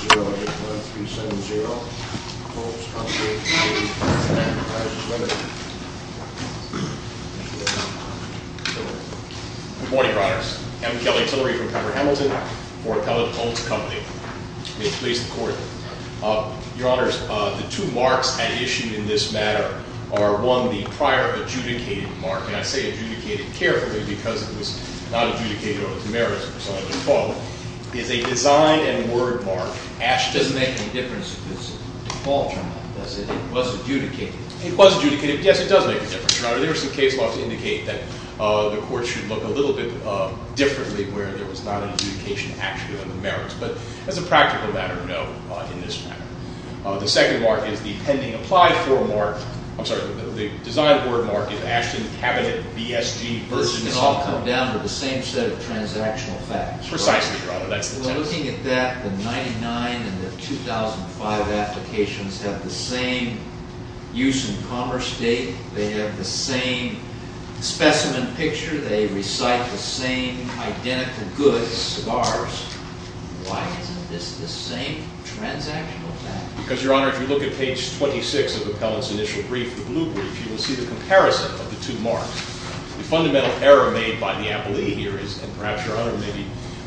Good morning, Your Honors. I'm Kelly Tillery from Cover Hamilton for Appellate Holt's Company. May it please the Court. Your Honors, the two marks at issue in this matter are, one, the prior adjudicated mark, and I say adjudicated carefully because it was not adjudicated on its merits. It's a design and word mark. It doesn't make any difference if it's a default, does it? It was adjudicated. It was adjudicated. Yes, it does make a difference. Your Honor, there are some case laws that indicate that the Court should look a little bit differently where there was not an adjudication actually on the merits. But as a practical matter, no, in this matter. The second mark is the pending applied for mark. I'm sorry, the design word mark is Ashton Cabinet B.S.G. This can all come down to the same set of transactional facts. Precisely, Your Honor, that's the test. Well, looking at that, the 99 and the 2005 applications have the same use and commerce date. They have the same specimen picture. They recite the same identical goods, cigars. Why isn't this the same transactional fact? Because, Your Honor, if you look at page 26 of the appellant's initial brief, the blue brief, you will see the comparison of the two marks. The fundamental error made by the appellee here is, and perhaps Your Honor may be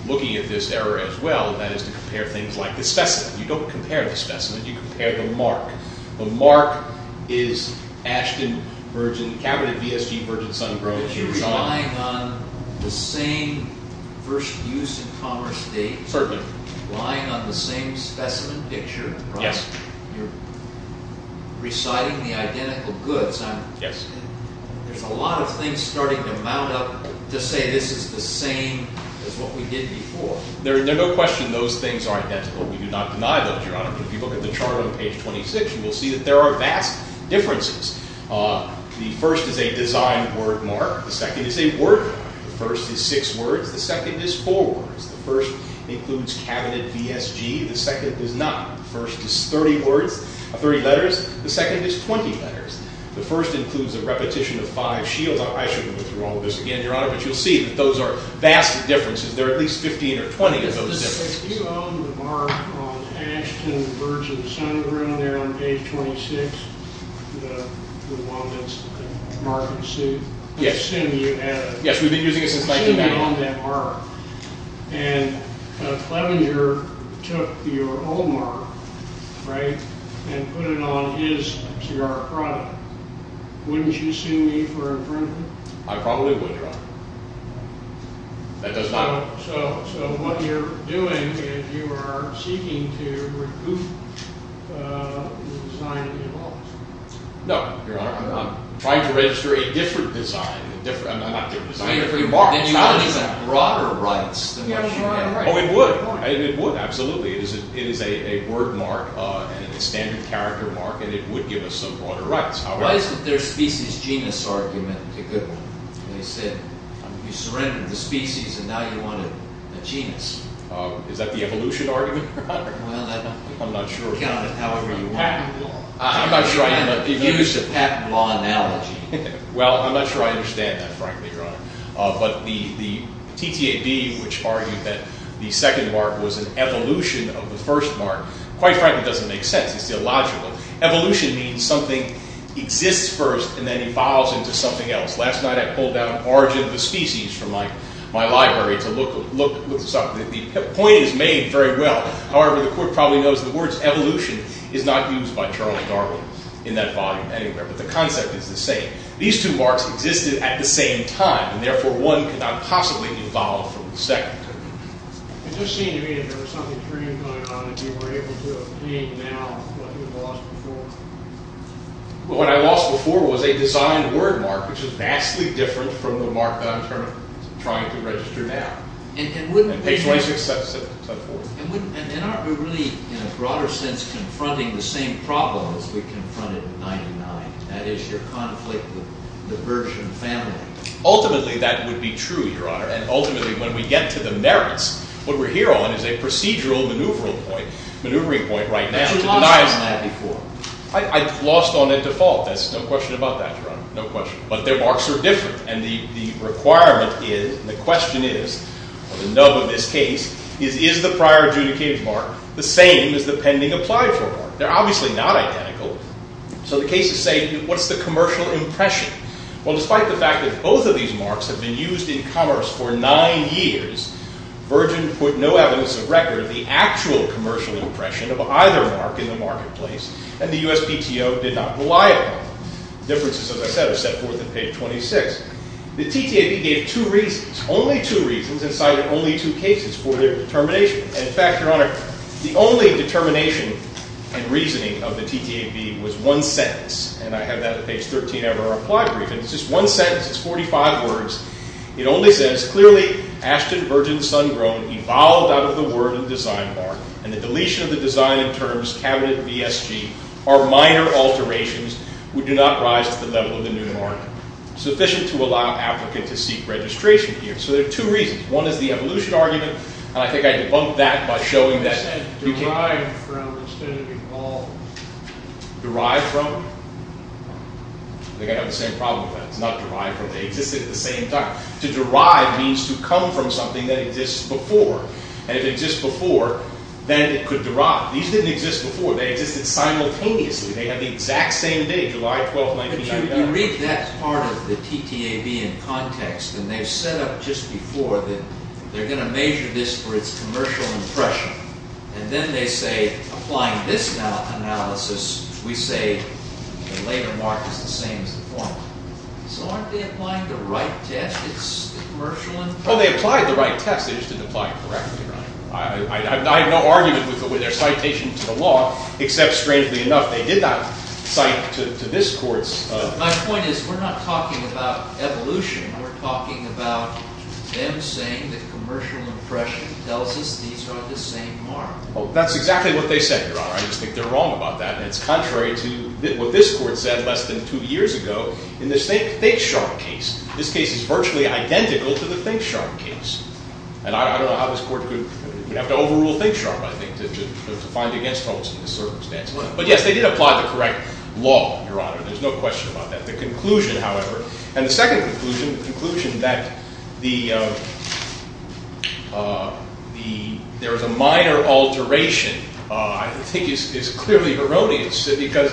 looking at this error as well, that is to compare things like the specimen. You don't compare the specimen. You compare the mark. The mark is Ashton Cabinet B.S.G. Virgin Sun Gross. You're relying on the same first use and commerce date. Certainly. Relying on the same specimen picture. Yes. You're reciting the identical goods. Yes. There's a lot of things starting to mount up to say this is the same as what we did before. There's no question those things are identical. We do not deny that, Your Honor. If you look at the chart on page 26, you will see that there are vast differences. The first is a design word mark. The second is a word mark. The first is six words. The second is four words. The first includes Cabinet B.S.G. The second is not. The first is 30 letters. The second is 20 letters. The first includes a repetition of five shields. I shouldn't go through all of this again, Your Honor, but you'll see that those are vast differences. There are at least 15 or 20 of those differences. You own the mark on Ashton, the birds in the sun, around there on page 26, the one that's marked suit. Yes. I assume you have. Yes, we've been using it since 1990. I assume you own that mark. And Clevenger took your old mark, right, and put it on his cigar product. Wouldn't you sue me for infringement? I probably would, Your Honor. That does not. So what you're doing is you are seeking to recoup the design of your office. No, Your Honor. I'm trying to register a different design. I'm not different design. Then you would have broader rights than what you have. Oh, it would. It would, absolutely. It is a word mark and a standard character mark, and it would give us some broader rights. Why isn't their species genus argument a good one? They said you surrendered the species, and now you want a genus. Is that the evolution argument, Your Honor? Well, that would be counted however you want. I'm not sure I understand that. Use the patent law analogy. Well, I'm not sure I understand that, frankly, Your Honor. But the TTAB, which argued that the second mark was an evolution of the first mark, quite frankly, doesn't make sense. It's illogical. Evolution means something exists first and then evolves into something else. Last night I pulled down origin of the species from my library to look this up. The point is made very well. However, the court probably knows the words evolution is not used by Charles Darwin in that volume anywhere. But the concept is the same. These two marks existed at the same time, and therefore one could not possibly evolve from the second. It just seemed to me that there was something preeminent going on and you were able to obtain now what you had lost before. Well, what I lost before was a design word mark, which is vastly different from the mark that I'm trying to register now. And page 2674. And wouldn't it be really, in a broader sense, confronting the same problem as we confronted in 99, that is, your conflict with the Gershwin family? Ultimately, that would be true, Your Honor. And ultimately, when we get to the merits, what we're here on is a procedural maneuvering point right now. I lost on a default. There's no question about that, Your Honor. No question. But their marks are different. And the requirement is, and the question is, or the nub of this case, is the prior adjudicated mark the same as the pending applied for mark? They're obviously not identical. So the case is saying, what's the commercial impression? Well, despite the fact that both of these marks have been used in commerce for nine years, Virgin put no evidence of record of the actual commercial impression of either mark in the marketplace, and the USPTO did not rely upon them. The differences, as I said, are set forth in page 26. The TTAB gave two reasons, only two reasons, and cited only two cases for their determination. In fact, Your Honor, the only determination and reasoning of the TTAB was one sentence. And I have that on page 13 of our applied brief. And it's just one sentence. It's 45 words. It only says, clearly Ashton, Virgin, Sun Grown evolved out of the word and design mark. And the deletion of the design and terms, cabinet VSG, are minor alterations. We do not rise to the level of the new mark. Sufficient to allow an applicant to seek registration here. So there are two reasons. One is the evolution argument. And I think I debunked that by showing that. You said derived from instead of evolved. Derived from? I think I have the same problem with that. It's not derived from. They existed at the same time. To derive means to come from something that exists before. And if it exists before, then it could derive. These didn't exist before. They existed simultaneously. They have the exact same date, July 12, 1999. But you can read that part of the TTAB in context. And they've set up just before that they're going to measure this for its commercial impression. And then they say, applying this analysis, we say the later mark is the same as the former. So aren't they applying the right test? It's the commercial impression? Oh, they applied the right test. They just didn't apply it correctly, Your Honor. I have no argument with their citation to the law, except strangely enough, they did not cite to this court's. My point is we're not talking about evolution. We're talking about them saying that commercial impression tells us these are the same mark. Oh, that's exactly what they said, Your Honor. I just think they're wrong about that. It's contrary to what this court said less than two years ago in the ThinkSharp case. This case is virtually identical to the ThinkSharp case. And I don't know how this court could have to overrule ThinkSharp, I think, to find against Holmes in this circumstance. But, yes, they did apply the correct law, Your Honor. There's no question about that. The conclusion, however, and the second conclusion, the conclusion that there is a minor alteration, I think, is clearly erroneous. Because,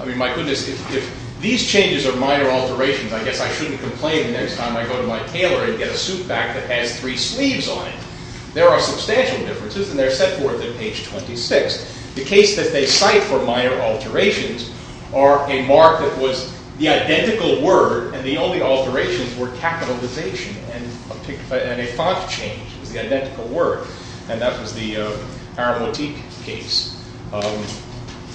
I mean, my goodness, if these changes are minor alterations, I guess I shouldn't complain the next time I go to my tailor and get a suit back that has three sleeves on it. There are substantial differences, and they're set forth in page 26. The case that they cite for minor alterations are a mark that was the identical word, and the only alterations were capitalization and a font change. It was the identical word. And that was the Aramotique case.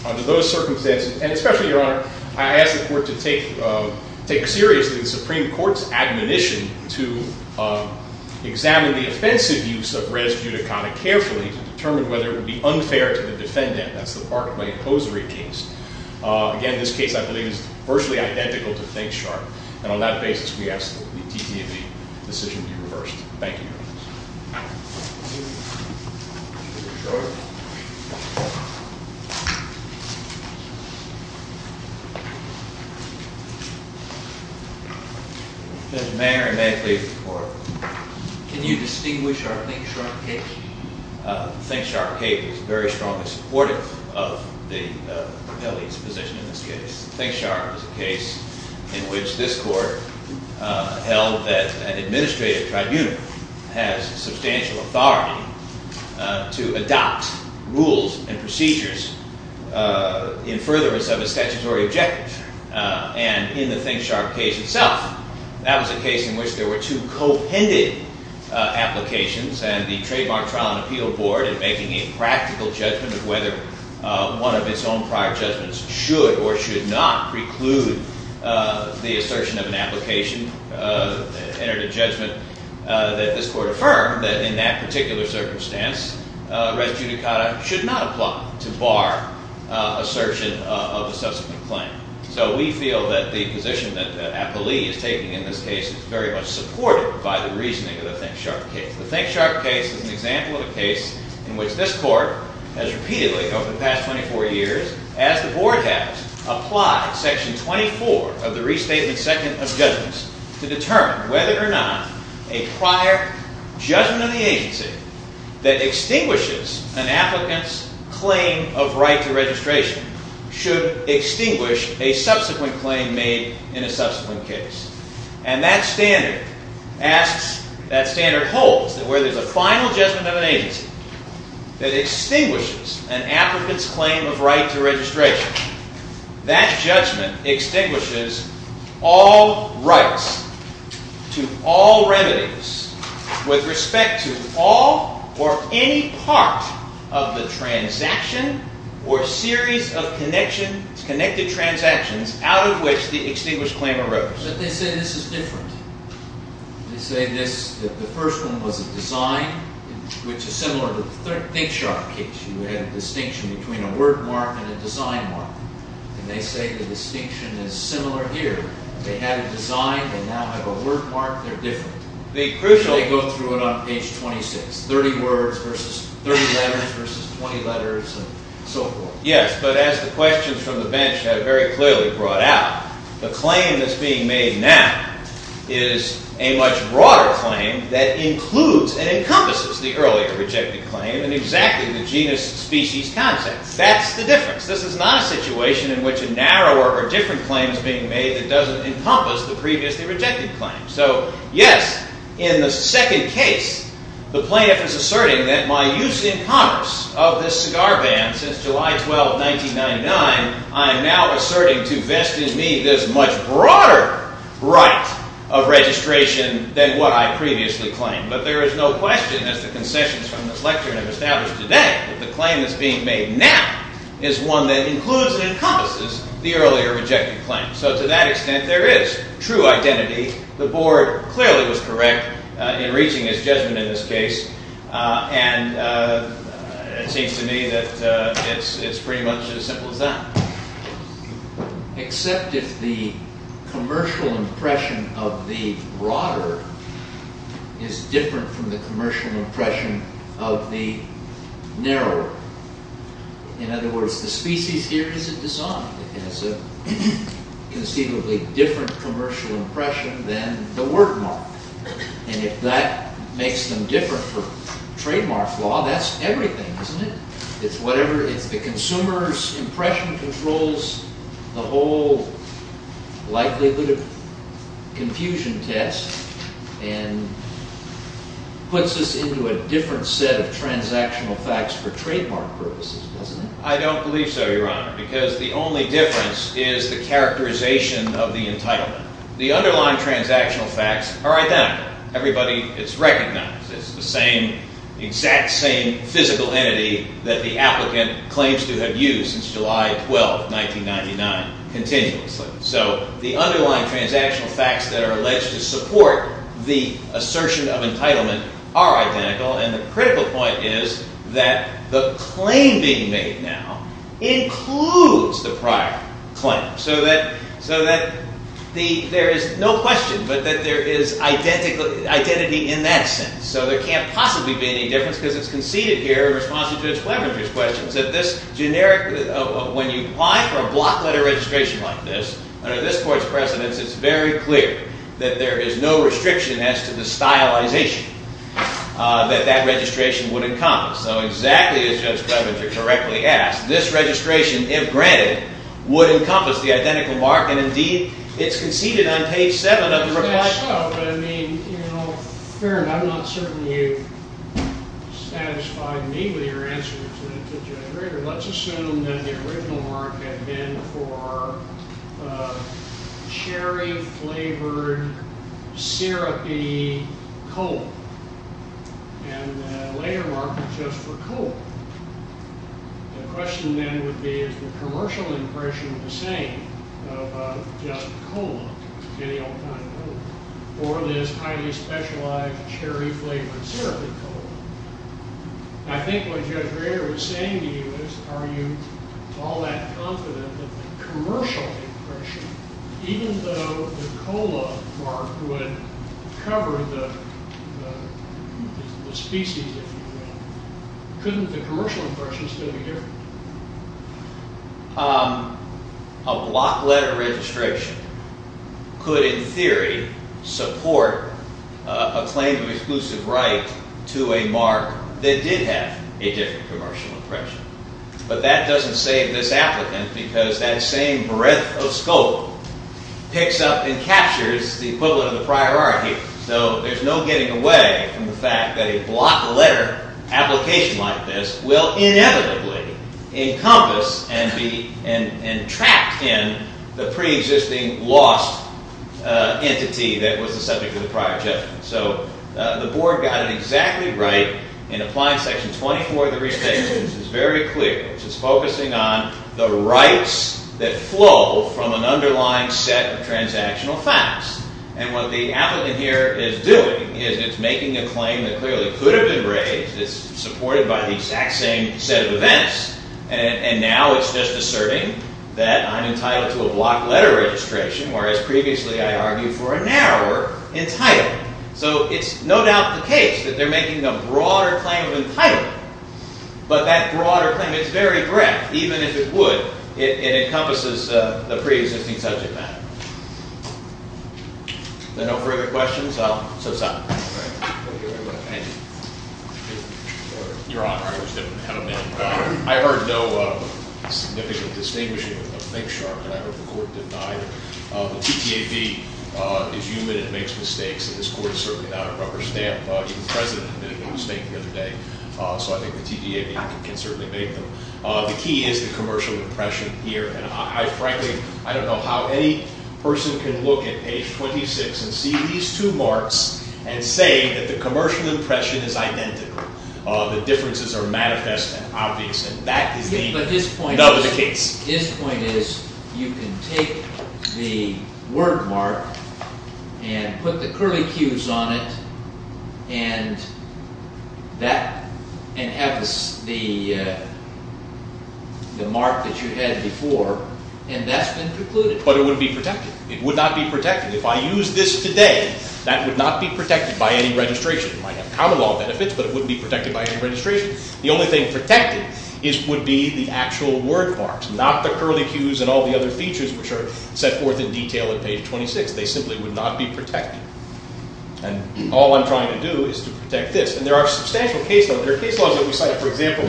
Under those circumstances, and especially, Your Honor, I ask the court to take seriously the Supreme Court's admonition to examine the offensive use of res judicata carefully to determine whether it would be unfair to the defendant. That's the Barclay-Posery case. Again, this case, I believe, is virtually identical to ThinkSharp. And on that basis, we ask that the TTAB decision be reversed. Thank you, Your Honor. Judge Mayer, and may I please report? Can you distinguish our ThinkSharp case? ThinkSharp case is very strongly supportive of the appellee's position in this case. ThinkSharp is a case in which this court held that an administrative tribunal has substantial authority to adopt rules and procedures in furtherance of a statutory objective. And in the ThinkSharp case itself, that was a case in which there were two co-handed applications. And the Trademark Trial and Appeal Board, in making a practical judgment of whether one of its own prior judgments should or should not preclude the assertion of an application, entered a judgment that this court affirmed that in that particular circumstance, res judicata should not apply to bar assertion of a subsequent claim. So we feel that the position that the appellee is taking in this case is very much supported by the reasoning of the ThinkSharp case. The ThinkSharp case is an example of a case in which this court has repeatedly, over the past 24 years, as the Board has, applied Section 24 of the Restatement Second of Judgments to determine whether or not a prior judgment of the agency that extinguishes an applicant's claim of right to registration should extinguish a subsequent claim made in a subsequent case. And that standard holds that where there's a final judgment of an agency that extinguishes an applicant's claim of right to registration, that judgment extinguishes all rights to all remedies with respect to all or any part of the transaction or series of connected transactions out of which the extinguished claim arose. But they say this is different. They say the first one was a design, which is similar to the ThinkSharp case. You had a distinction between a word mark and a design mark. And they say the distinction is similar here. They had a design. They now have a word mark. They're different. They go through it on page 26, 30 words versus 30 letters versus 20 letters and so forth. Yes, but as the questions from the bench have very clearly brought out, the claim that's being made now is a much broader claim that includes and encompasses the earlier rejected claim in exactly the genus species context. That's the difference. This is not a situation in which a narrower or different claim is being made that doesn't encompass the previously rejected claim. So yes, in the second case, the plaintiff is asserting that my use in Congress of this cigar ban since July 12, 1999, I am now asserting to vest in me this much broader right of registration than what I previously claimed. But there is no question, as the concessions from this lecture have established today, that the claim that's being made now is one that includes and encompasses the earlier rejected claim. So to that extent, there is true identity. The board clearly was correct in reaching its judgment in this case. And it seems to me that it's pretty much as simple as that. Except if the commercial impression of the broader is different from the commercial impression of the narrower. In other words, the species here is a design. It has a conceivably different commercial impression than the word mark. And if that makes them different for trademark law, that's everything, isn't it? It's whatever, it's the consumer's impression controls the whole likelihood of confusion test and puts us into a different set of transactional facts for trademark purposes, doesn't it? I don't believe so, Your Honor, because the only difference is the characterization of the entitlement. The underlying transactional facts are identical. Everybody is recognized. It's the same, exact same physical entity that the applicant claims to have used since July 12, 1999, continuously. So the underlying transactional facts that are alleged to support the assertion of entitlement are identical. And the critical point is that the claim being made now includes the prior claim. So that there is no question, but that there is identity in that sense. So there can't possibly be any difference because it's conceded here in response to Judge Webber's questions. When you apply for a block letter registration like this, under this court's precedence, it's very clear that there is no restriction as to the stylization that that registration would encompass. So exactly as Judge Webber correctly asked, this registration, if granted, would encompass the identical mark. And indeed, it's conceded on page 7 of the request. So, I mean, you know, Farron, I'm not certain you've satisfied me with your answer to Judge Rager. Let's assume that the original mark had been for cherry-flavored, syrupy coal. And the later mark was just for coal. The question then would be, is the commercial impression the same about just coal, any old kind of coal, or this highly specialized cherry-flavored, syrupy coal? I think what Judge Rager was saying to you is, are you all that confident that the commercial impression, even though the coal mark would cover the species, if you will, couldn't the commercial impression still be different? A block letter registration could, in theory, support a claim of exclusive right to a mark that did have a different commercial impression. But that doesn't save this applicant, because that same breadth of scope picks up and captures the equivalent of the prior argument. So there's no getting away from the fact that a block letter application like this will inevitably encompass and be trapped in the preexisting lost entity that was the subject of the prior judgment. So the Board got it exactly right in Applying Section 24 of the Restatement. It's very clear. It's focusing on the rights that flow from an underlying set of transactional facts. And what the applicant here is doing is it's making a claim that clearly could have been raised. It's supported by the exact same set of events. And now it's just asserting that I'm entitled to a block letter registration, whereas previously I argued for a narrower entitlement. So it's no doubt the case that they're making a broader claim of entitlement. But that broader claim, it's very direct. Even if it would, it encompasses the preexisting subject matter. Are there no further questions? I'll subside. Thank you very much. Your Honor, I just didn't have a minute. I heard no significant distinguishing of things, Your Honor, and I hope the Court didn't either. The TTAB is human and makes mistakes, and this Court is certainly not a rubber stamp. Even the President made a mistake the other day. So I think the TTAB can certainly make them. The key is the commercial impression here. And, frankly, I don't know how any person can look at page 26 and see these two marks and say that the commercial impression is identical, the differences are manifest and obvious. And that is the case. His point is you can take the word mark and put the curly Qs on it and have the mark that you had before, and that's been precluded. But it wouldn't be protected. It would not be protected. If I use this today, that would not be protected by any registration. It might have common law benefits, but it wouldn't be protected by any registration. The only thing protected would be the actual word marks, not the curly Qs and all the other features, which are set forth in detail in page 26. They simply would not be protected. And all I'm trying to do is to protect this. And there are substantial case laws. There are case laws that we cite. For example,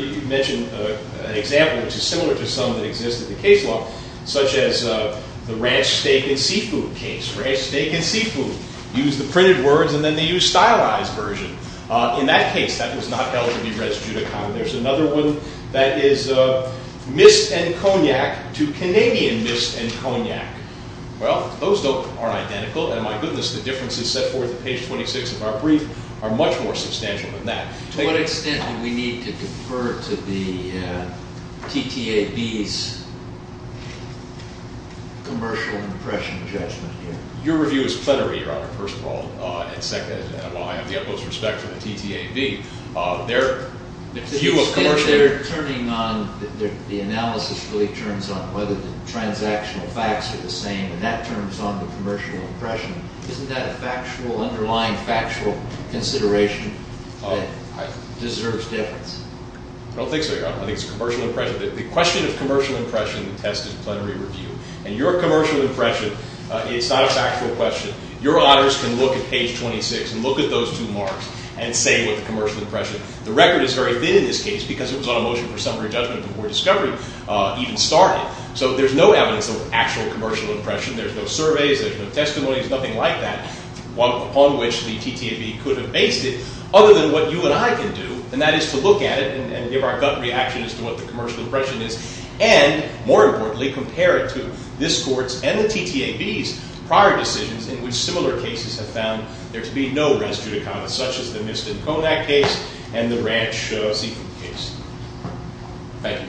you mentioned an example which is similar to some that exist in the case law, such as the ranch, steak, and seafood case. Ranch, steak, and seafood use the printed words and then they use stylized version. In that case, that was not held to be res judicata. There's another one that is mist and cognac to Canadian mist and cognac. Well, those are identical. And my goodness, the differences set forth in page 26 of our brief are much more substantial than that. To what extent do we need to defer to the TTAB's commercial impression judgment here? Your review is plenary, Your Honor, first of all. And second, while I have the utmost respect for the TTAB, their view of commercial impression Instead of turning on the analysis of whether the transactional facts are the same and that turns on the commercial impression, isn't that an underlying factual consideration that deserves difference? I don't think so, Your Honor. I think it's commercial impression. The question of commercial impression tested plenary review. And your commercial impression, it's not a factual question. Your honors can look at page 26 and look at those two marks and say what the commercial impression. The record is very thin in this case because it was on a motion for summary judgment before discovery even started. So there's no evidence of actual commercial impression. There's no surveys. There's no testimonies, nothing like that, upon which the TTAB could have based it, other than what you and I can do, and that is to look at it and give our gut reaction as to what the commercial impression is and, more importantly, compare it to this court's and the TTAB's prior decisions in which similar cases have found there to be no res judicata, such as the Miston-Conac case and the Ranch-Seaton case. Thank you, Your Honors. All rise.